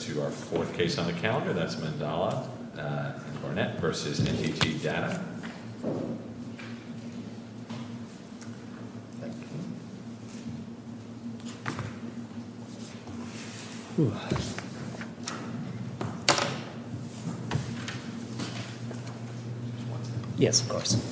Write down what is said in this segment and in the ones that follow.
to our fourth case on the calendar, that's Mandala and Garnett versus NTT Data. Yes, of course.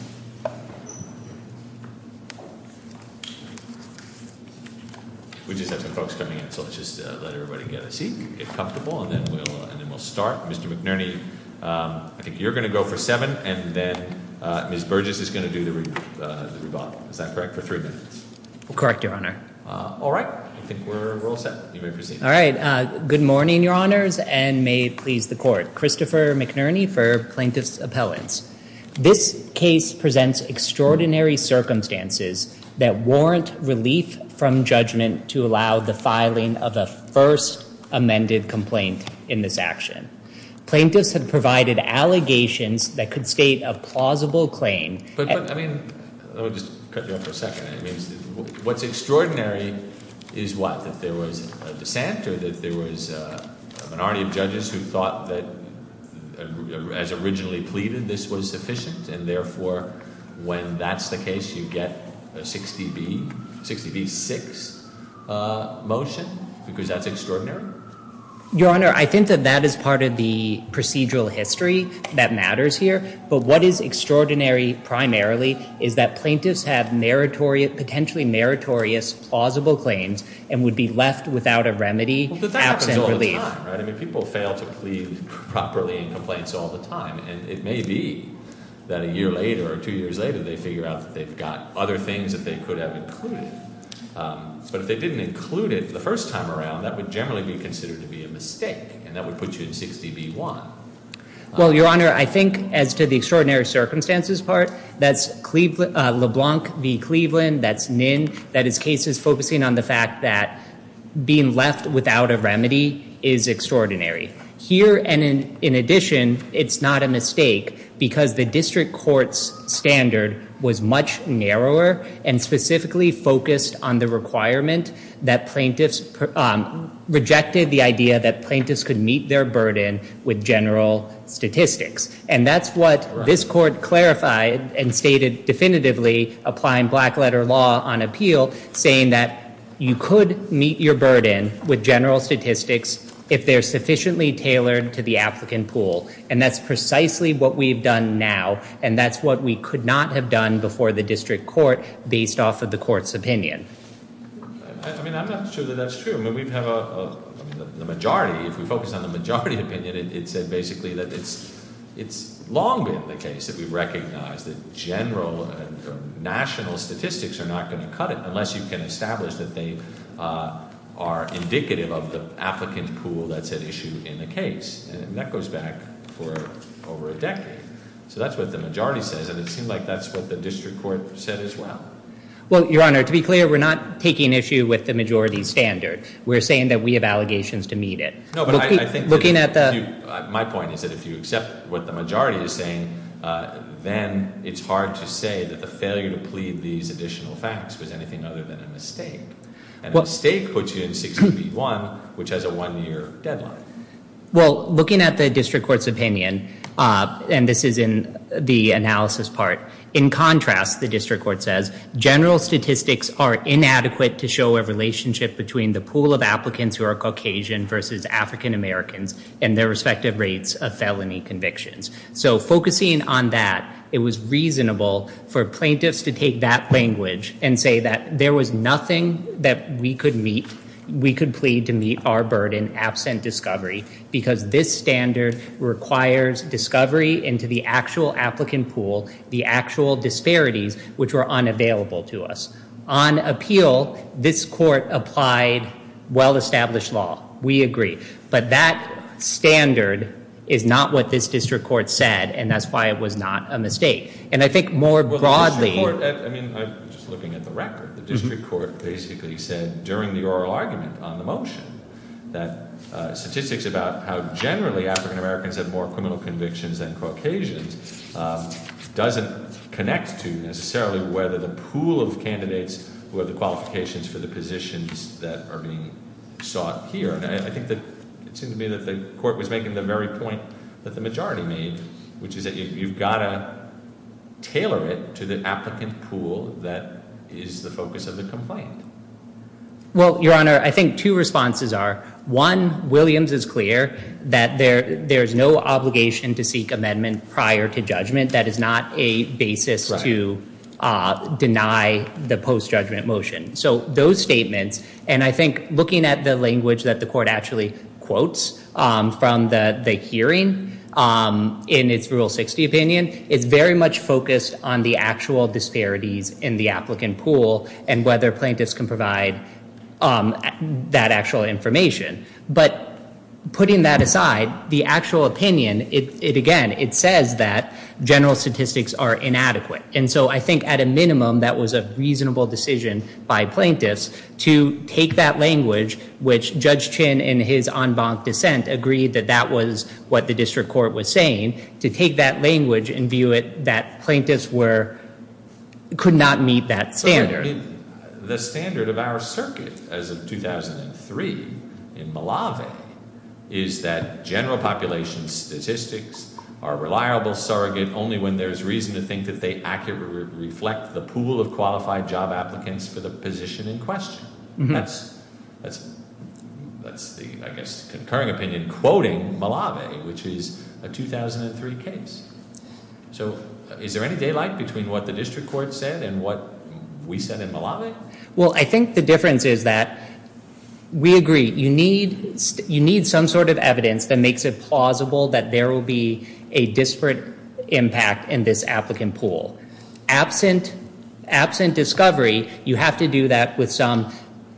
We just have some folks coming in, so let's just let everybody get a seat, get comfortable, and then we'll start. Mr. McNerney, I think you're going to go for seven, and then Ms. Burgess is going to do the rebuttal. Is that correct? For three minutes. Correct, Your Honor. All right. I think we're all set. You may proceed. All right. Good morning, Your Honors, and may it please the Court. Christopher McNerney for Plaintiff's Appellants. This case presents extraordinary circumstances that warrant relief from judgment to allow the filing of a first amended complaint in this action. Plaintiffs have provided allegations that could state a plausible claim. But, I mean, let me just cut you off for a second. I mean, what's extraordinary is what? That there was a dissent or that there was a minority of judges who thought that, as originally pleaded, this was sufficient. And, therefore, when that's the case, you get a 60B6 motion, because that's extraordinary? Your Honor, I think that that is part of the procedural history that matters here. But what is extraordinary primarily is that plaintiffs have potentially meritorious plausible claims and would be left without a remedy absent relief. But that happens all the time, right? I mean, people fail to plead properly in complaints all the time. And it may be that a year later or two years later, they figure out that they've got other things that they could have included. But if they didn't include it the first time around, that would generally be considered to be a mistake. And that would put you in 60B1. Well, Your Honor, I think, as to the extraordinary circumstances part, that's LeBlanc v. Cleveland. That's Ninn. That is cases focusing on the fact that being left without a remedy is extraordinary. Here, and in addition, it's not a mistake, because the district court's standard was much narrower and specifically focused on the requirement that plaintiffs rejected the idea that plaintiffs could meet their burden with general statistics. And that's what this court clarified and stated definitively applying black letter law on appeal, saying that you could meet your burden with general statistics if they're sufficiently tailored to the applicant pool. And that's precisely what we've done now. And that's what we could not have done before the district court based off of the court's opinion. I mean, I'm not sure that that's true. The majority, if we focus on the majority opinion, it said basically that it's long been the case that we recognize that general national statistics are not going to cut it unless you can establish that they are indicative of the applicant pool that's at issue in the case. And that goes back for over a decade. So that's what the majority says, and it seems like that's what the district court said as well. Well, Your Honor, to be clear, we're not taking issue with the majority standard. We're saying that we have allegations to meet it. No, but I think looking at the- My point is that if you accept what the majority is saying, then it's hard to say that the failure to plead these additional facts was anything other than a mistake. A mistake puts you in 16B1, which has a one-year deadline. Well, looking at the district court's opinion, and this is in the analysis part, in contrast, the district court says, general statistics are inadequate to show a relationship between the pool of applicants who are Caucasian versus African Americans and their respective rates of felony convictions. So focusing on that, it was reasonable for plaintiffs to take that language and say that there was nothing that we could plead to meet our burden absent discovery because this standard requires discovery into the actual applicant pool, the actual disparities, which were unavailable to us. On appeal, this court applied well-established law. We agree. But that standard is not what this district court said, and that's why it was not a mistake. And I think more broadly- Well, the district court, I mean, just looking at the record, the district court basically said during the oral argument on the motion that statistics about how generally African Americans have more criminal convictions than Caucasians doesn't connect to necessarily whether the pool of candidates who have the qualifications for the positions that are being sought here. And I think that it seemed to me that the court was making the very point that the majority made, which is that you've got to tailor it to the applicant pool that is the focus of the complaint. Well, Your Honor, I think two responses are, one, Williams is clear that there is no obligation to seek amendment prior to judgment. That is not a basis to deny the post-judgment motion. So those statements, and I think looking at the language that the court actually quotes from the hearing in its Rule 60 opinion, I think it's very much focused on the actual disparities in the applicant pool and whether plaintiffs can provide that actual information. But putting that aside, the actual opinion, again, it says that general statistics are inadequate. And so I think at a minimum that was a reasonable decision by plaintiffs to take that language, which Judge Chin in his en banc dissent agreed that that was what the district court was saying, to take that language and view it that plaintiffs could not meet that standard. The standard of our circuit as of 2003 in Malave is that general population statistics are reliable surrogate only when there is reason to think that they accurately reflect the pool of qualified job applicants for the position in question. That's the, I guess, concurring opinion quoting Malave, which is a 2003 case. So is there any daylight between what the district court said and what we said in Malave? Well, I think the difference is that we agree. You need some sort of evidence that makes it plausible that there will be a disparate impact in this applicant pool. Absent discovery, you have to do that with some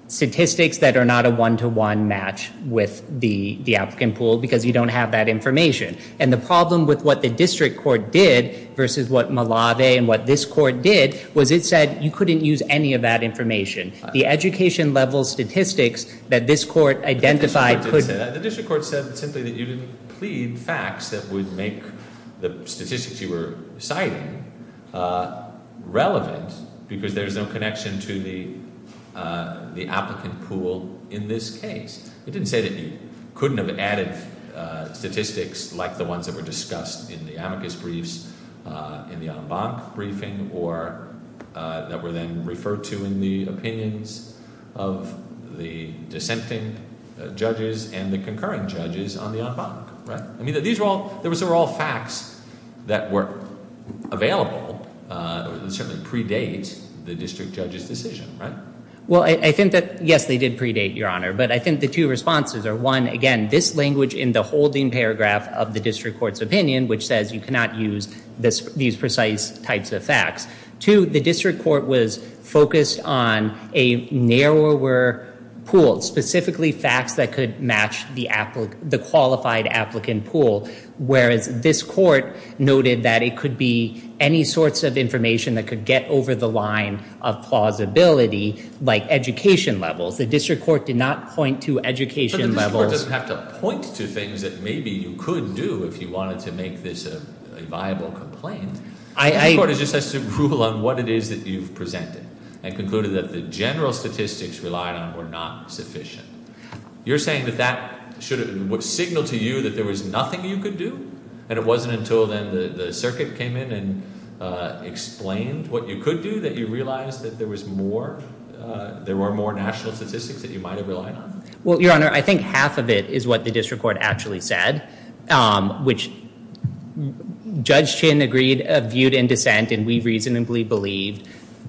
statistics that are not a one-to-one match with the applicant pool because you don't have that information. And the problem with what the district court did versus what Malave and what this court did was it said you couldn't use any of that information. The education level statistics that this court identified couldn't. The court said simply that you didn't plead facts that would make the statistics you were citing relevant because there's no connection to the applicant pool in this case. It didn't say that you couldn't have added statistics like the ones that were discussed in the amicus briefs, in the en banc briefing, or that were then referred to in the opinions of the dissenting judges and the concurring judges on the en banc. I mean, these were all facts that were available that certainly predate the district judge's decision, right? Well, I think that, yes, they did predate, Your Honor. But I think the two responses are, one, again, this language in the holding paragraph of the district court's opinion, which says you cannot use these precise types of facts. Two, the district court was focused on a narrower pool, specifically facts that could match the qualified applicant pool, whereas this court noted that it could be any sorts of information that could get over the line of plausibility, like education levels. The district court did not point to education levels. The district court doesn't have to point to things that maybe you could do if you wanted to make this a viable complaint. The district court just has to rule on what it is that you've presented and concluded that the general statistics relied on were not sufficient. You're saying that that should have signaled to you that there was nothing you could do? And it wasn't until then the circuit came in and explained what you could do that you realized that there was more? There were more national statistics that you might have relied on? Well, Your Honor, I think half of it is what the district court actually said, which Judge Chin agreed viewed in dissent and we reasonably believed,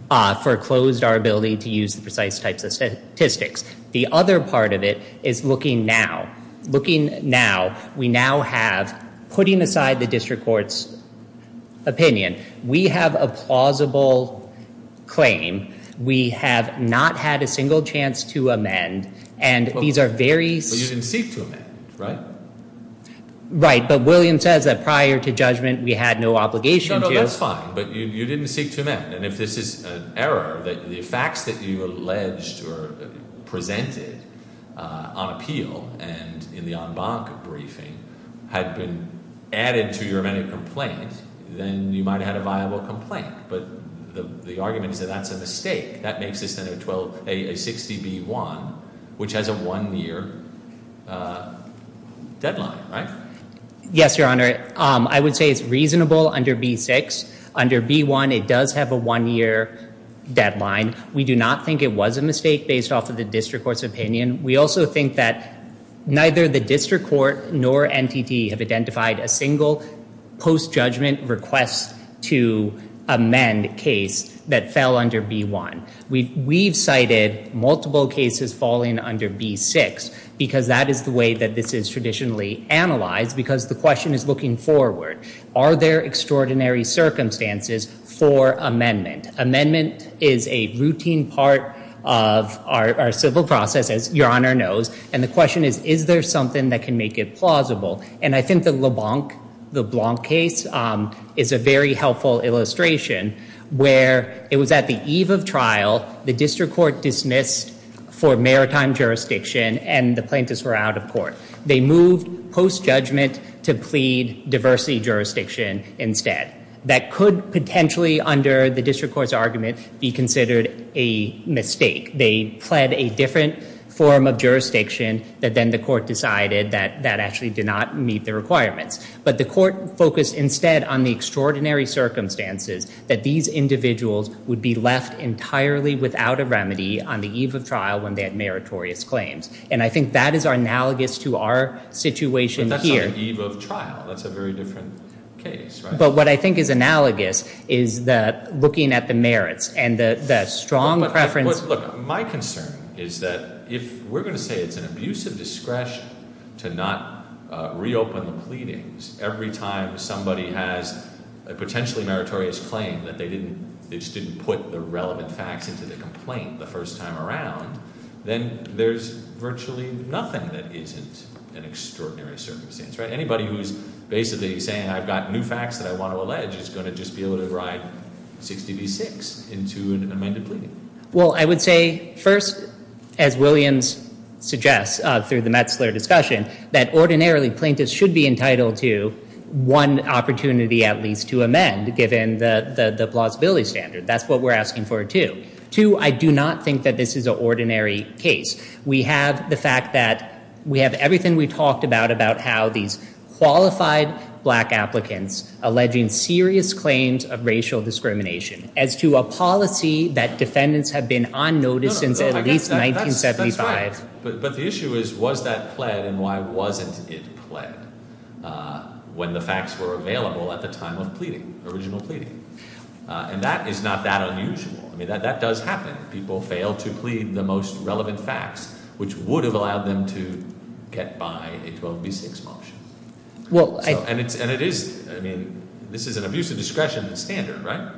foreclosed our ability to use the precise types of statistics. The other part of it is looking now. Looking now, we now have, putting aside the district court's opinion, we have a plausible claim. We have not had a single chance to amend, and these are very- But you didn't seek to amend, right? Right, but William says that prior to judgment we had no obligation to- No, no, that's fine, but you didn't seek to amend. And if this is an error that the facts that you alleged or presented on appeal and in the en banc briefing had been added to your amended complaint, then you might have had a viable complaint. But the argument is that that's a mistake. That makes this then a 60B-1, which has a one-year deadline, right? Yes, Your Honor. I would say it's reasonable under B-6. Under B-1, it does have a one-year deadline. We do not think it was a mistake based off of the district court's opinion. We also think that neither the district court nor NTT have identified a single post-judgment request to amend case that fell under B-1. We've cited multiple cases falling under B-6 because that is the way that this is traditionally analyzed because the question is looking forward. Are there extraordinary circumstances for amendment? Amendment is a routine part of our civil process, as Your Honor knows, and the question is, is there something that can make it plausible? And I think the LeBlanc case is a very helpful illustration where it was at the eve of trial, the district court dismissed for maritime jurisdiction and the plaintiffs were out of court. They moved post-judgment to plead diversity jurisdiction instead. That could potentially, under the district court's argument, be considered a mistake. They pled a different form of jurisdiction that then the court decided that that actually did not meet the requirements. But the court focused instead on the extraordinary circumstances that these individuals would be left entirely without a remedy on the eve of trial when they had meritorious claims. And I think that is analogous to our situation here. But that's on the eve of trial. That's a very different case. But what I think is analogous is looking at the merits and the strong preference. Look, my concern is that if we're going to say it's an abusive discretion to not reopen the pleadings every time somebody has a potentially meritorious claim that they just didn't put the relevant facts into the complaint the first time around, then there's virtually nothing that isn't an extraordinary circumstance. Anybody who's basically saying I've got new facts that I want to allege is going to just be able to write 60 v. 6 into an amended pleading. Well, I would say first, as Williams suggests through the Metzler discussion, that ordinarily plaintiffs should be entitled to one opportunity at least to amend given the plausibility standard. That's what we're asking for, too. Two, I do not think that this is an ordinary case. We have the fact that we have everything we talked about about how these qualified black applicants alleging serious claims of racial discrimination as to a policy that defendants have been on notice since at least 1975. But the issue is was that pled and why wasn't it pled when the facts were available at the time of original pleading? And that is not that unusual. That does happen. People fail to plead the most relevant facts, which would have allowed them to get by a 12 v. 6 motion. And it is, I mean, this is an abuse of discretion standard, right?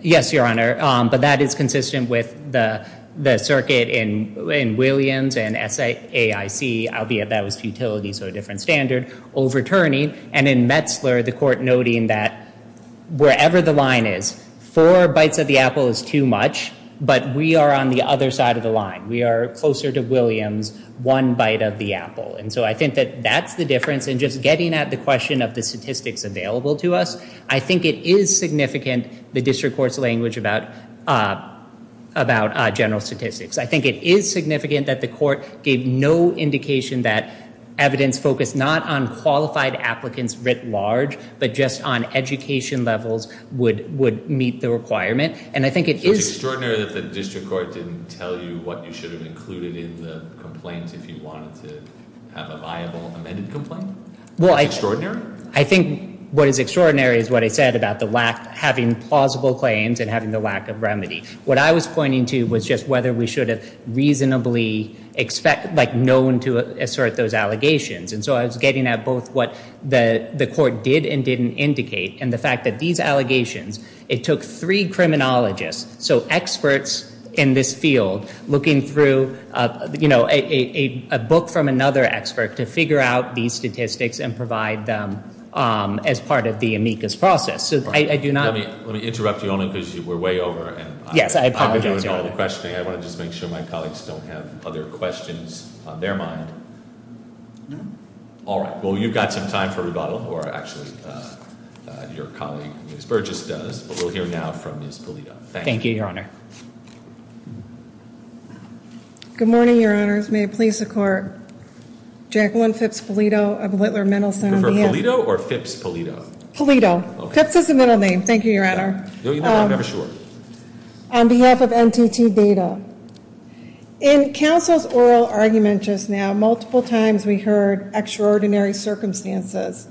Yes, Your Honor, but that is consistent with the circuit in Williams and SAIC, albeit that was futility, so a different standard, overturning. And in Metzler, the court noting that wherever the line is, four bites of the apple is too much, but we are on the other side of the line. We are closer to Williams, one bite of the apple. And so I think that that's the difference. And just getting at the question of the statistics available to us, I think it is significant, the district court's language about general statistics. I think it is significant that the court gave no indication that evidence focused not on qualified applicants writ large, but just on education levels would meet the requirement. So it's extraordinary that the district court didn't tell you what you should have included in the complaint if you wanted to have a viable amended complaint? It's extraordinary? I think what is extraordinary is what I said about the lack, having plausible claims and having the lack of remedy. What I was pointing to was just whether we should have reasonably known to assert those allegations. And so I was getting at both what the court did and didn't indicate, and the fact that these allegations, it took three criminologists, so experts in this field looking through a book from another expert to figure out these statistics and provide them as part of the amicus process. Let me interrupt you only because you were way over. Yes, I apologize. I've been doing all the questioning. I want to just make sure my colleagues don't have other questions on their mind. All right. Well, you've got some time for rebuttal, or actually your colleague Ms. Burgess does, but we'll hear now from Ms. Polito. Thank you, Your Honor. Good morning, Your Honors. May it please the Court. Jacqueline Phipps-Polito of Whittler-Mendelson. You prefer Polito or Phipps-Polito? Polito. Phipps is the middle name. Thank you, Your Honor. No, you know that. I'm never sure. On behalf of NTT Data, in counsel's oral argument just now, multiple times we heard extraordinary circumstances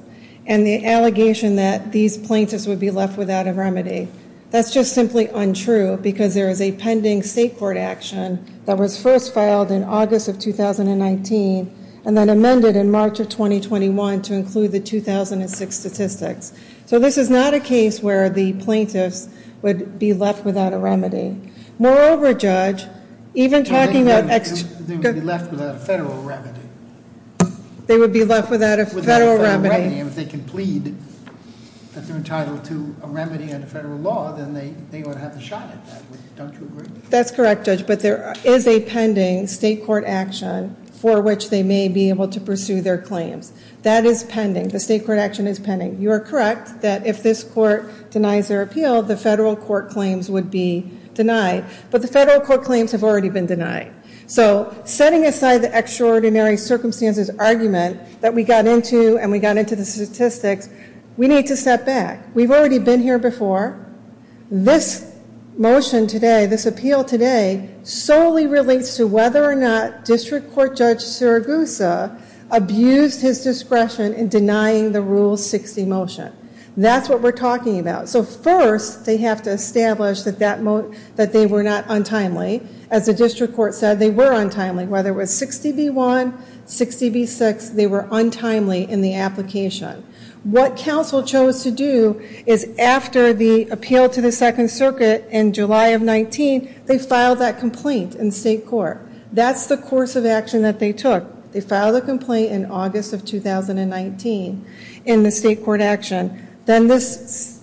and the allegation that these plaintiffs would be left without a remedy. That's just simply untrue because there is a pending state court action that was first filed in August of 2019 and then amended in March of 2021 to include the 2006 statistics. So this is not a case where the plaintiffs would be left without a remedy. Moreover, Judge, even talking about extra- They would be left without a federal remedy. They would be left without a federal remedy. Without a federal remedy. If they can plead that they're entitled to a remedy under federal law, then they ought to have the shot at that. Don't you agree? That's correct, Judge, but there is a pending state court action for which they may be able to pursue their claims. That is pending. The state court action is pending. You are correct that if this court denies their appeal, the federal court claims would be denied, but the federal court claims have already been denied. So setting aside the extraordinary circumstances argument that we got into and we got into the statistics, we need to step back. We've already been here before. This motion today, this appeal today, solely relates to whether or not District Court Judge Siragusa abused his discretion in denying the Rule 60 motion. That's what we're talking about. So first, they have to establish that they were not untimely. As the District Court said, they were untimely. Whether it was 60B1, 60B6, they were untimely in the application. What counsel chose to do is after the appeal to the Second Circuit in July of 19, they filed that complaint in state court. That's the course of action that they took. They filed a complaint in August of 2019 in the state court action. Then this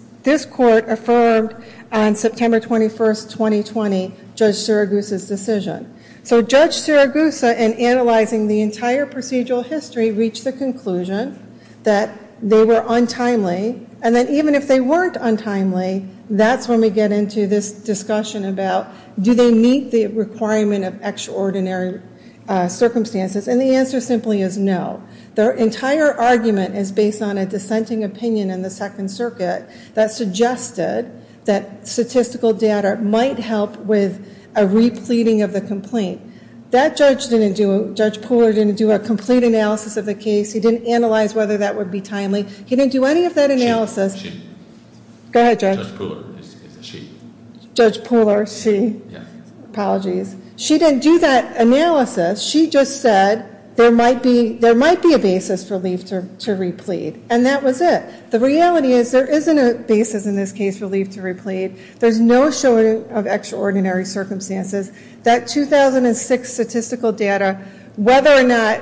court affirmed on September 21, 2020, Judge Siragusa's decision. So Judge Siragusa, in analyzing the entire procedural history, reached the conclusion that they were untimely, and that even if they weren't untimely, that's when we get into this discussion about do they meet the requirement of extraordinary circumstances, and the answer simply is no. Their entire argument is based on a dissenting opinion in the Second Circuit that suggested that statistical data might help with a repleting of the complaint. That judge didn't do a complete analysis of the case. He didn't analyze whether that would be timely. He didn't do any of that analysis. She. Go ahead, Judge. Judge Poehler. She. Judge Poehler. She. Apologies. She didn't do that analysis. She just said there might be a basis for relief to replete, and that was it. The reality is there isn't a basis in this case for relief to replete. There's no showing of extraordinary circumstances. That 2006 statistical data, whether or not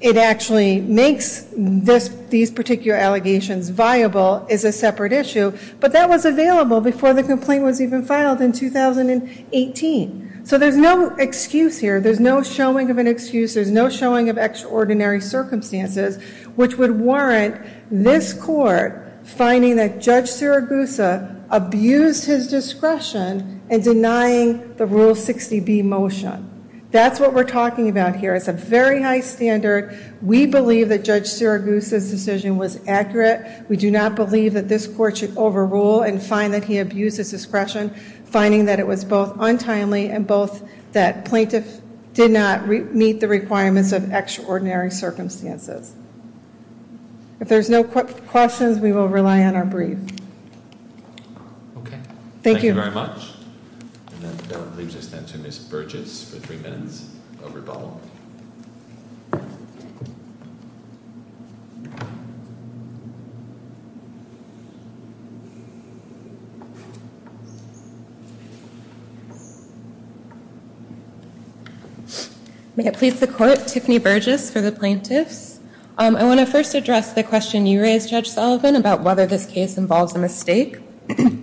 it actually makes these particular allegations viable, is a separate issue, but that was available before the complaint was even filed in 2018. So there's no excuse here. There's no showing of an excuse. There's no showing of extraordinary circumstances, which would warrant this court finding that Judge Siragusa abused his discretion in denying the Rule 60B motion. That's what we're talking about here. It's a very high standard. We believe that Judge Siragusa's decision was accurate. We do not believe that this court should overrule and find that he abused his discretion, finding that it was both untimely and both that plaintiff did not meet the requirements of extraordinary circumstances. If there's no questions, we will rely on our brief. Okay. Thank you very much. And that leaves us, then, to Ms. Burgess for three minutes of rebuttal. May it please the Court, Tiffany Burgess for the plaintiffs. I want to first address the question you raised, Judge Sullivan, about whether this case involves a mistake.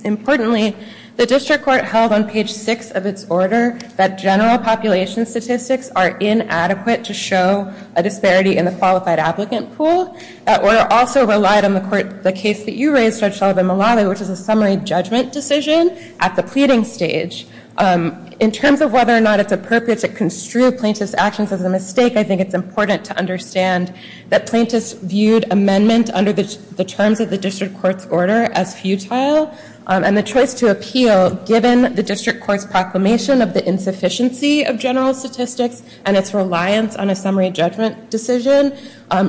Importantly, the district court held on page 6 of its order that general population statistics are inadequate to show a disparity in the qualified applicant pool. That order also relied on the case that you raised, Judge Sullivan Malawi, which is a summary judgment decision at the pleading stage. In terms of whether or not it's appropriate to construe plaintiff's actions as a mistake, I think it's important to understand that plaintiffs viewed amendment under the terms of the district court's order as futile. And the choice to appeal, given the district court's proclamation of the insufficiency of general statistics and its reliance on a summary judgment decision,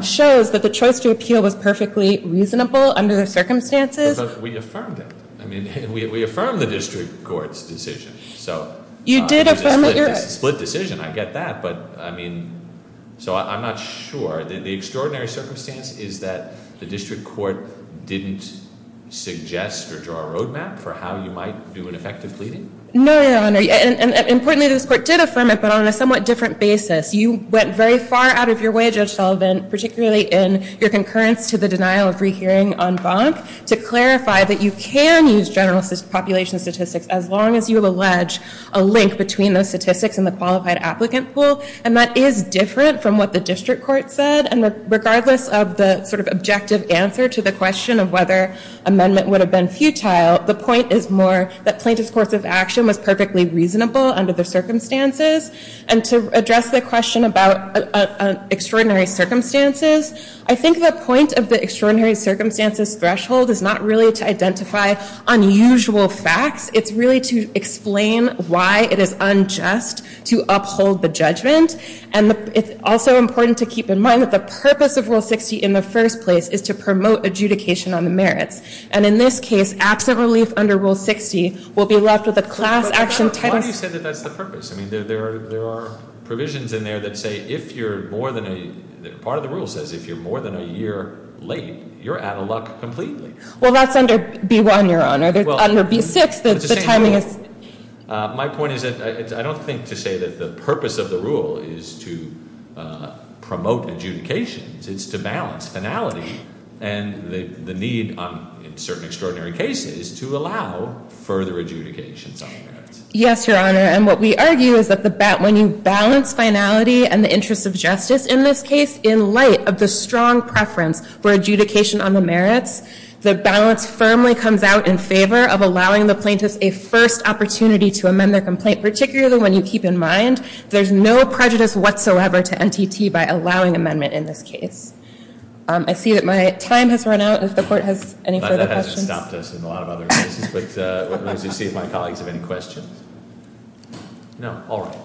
shows that the choice to appeal was perfectly reasonable under the circumstances. But we affirmed it. I mean, we affirmed the district court's decision. You did affirm it. It's a split decision. I get that. But I mean, so I'm not sure. The extraordinary circumstance is that the district court didn't suggest or draw a roadmap for how you might do an effective pleading? No, Your Honor. And importantly, this court did affirm it, but on a somewhat different basis. You went very far out of your way, Judge Sullivan, particularly in your concurrence to the denial of free hearing on Bonk, to clarify that you can use general population statistics as long as you allege a link between those statistics and the qualified applicant pool. And that is different from what the district court said. And regardless of the sort of objective answer to the question of whether amendment would have been futile, the point is more that plaintiff's course of action was perfectly reasonable under the circumstances. And to address the question about extraordinary circumstances, I think the point of the extraordinary circumstances threshold is not really to identify unusual facts. It's really to explain why it is unjust to uphold the judgment. And it's also important to keep in mind that the purpose of Rule 60 in the first place is to promote adjudication on the merits. And in this case, absent relief under Rule 60 will be left with a class action title. Why do you say that that's the purpose? I mean, there are provisions in there that say if you're more than a, part of the rule says if you're more than a year late, you're out of luck completely. Well, that's under B1, Your Honor. Under B6, the timing is- My point is that I don't think to say that the purpose of the rule is to promote adjudications. It's to balance finality and the need in certain extraordinary cases to allow further adjudications on the merits. Yes, Your Honor. And what we argue is that when you balance finality and the interest of justice in this case, in light of the strong preference for adjudication on the merits, the balance firmly comes out in favor of allowing the plaintiffs a first opportunity to amend their complaint, particularly when you keep in mind there's no prejudice whatsoever to NTT by allowing amendment in this case. I see that my time has run out. If the Court has any further questions- This hasn't stopped us in a lot of other cases, but let's see if my colleagues have any questions. No? All right.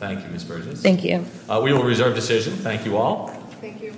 Thank you, Ms. Burgess. Thank you. We will reserve decision. Thank you all. Thank you.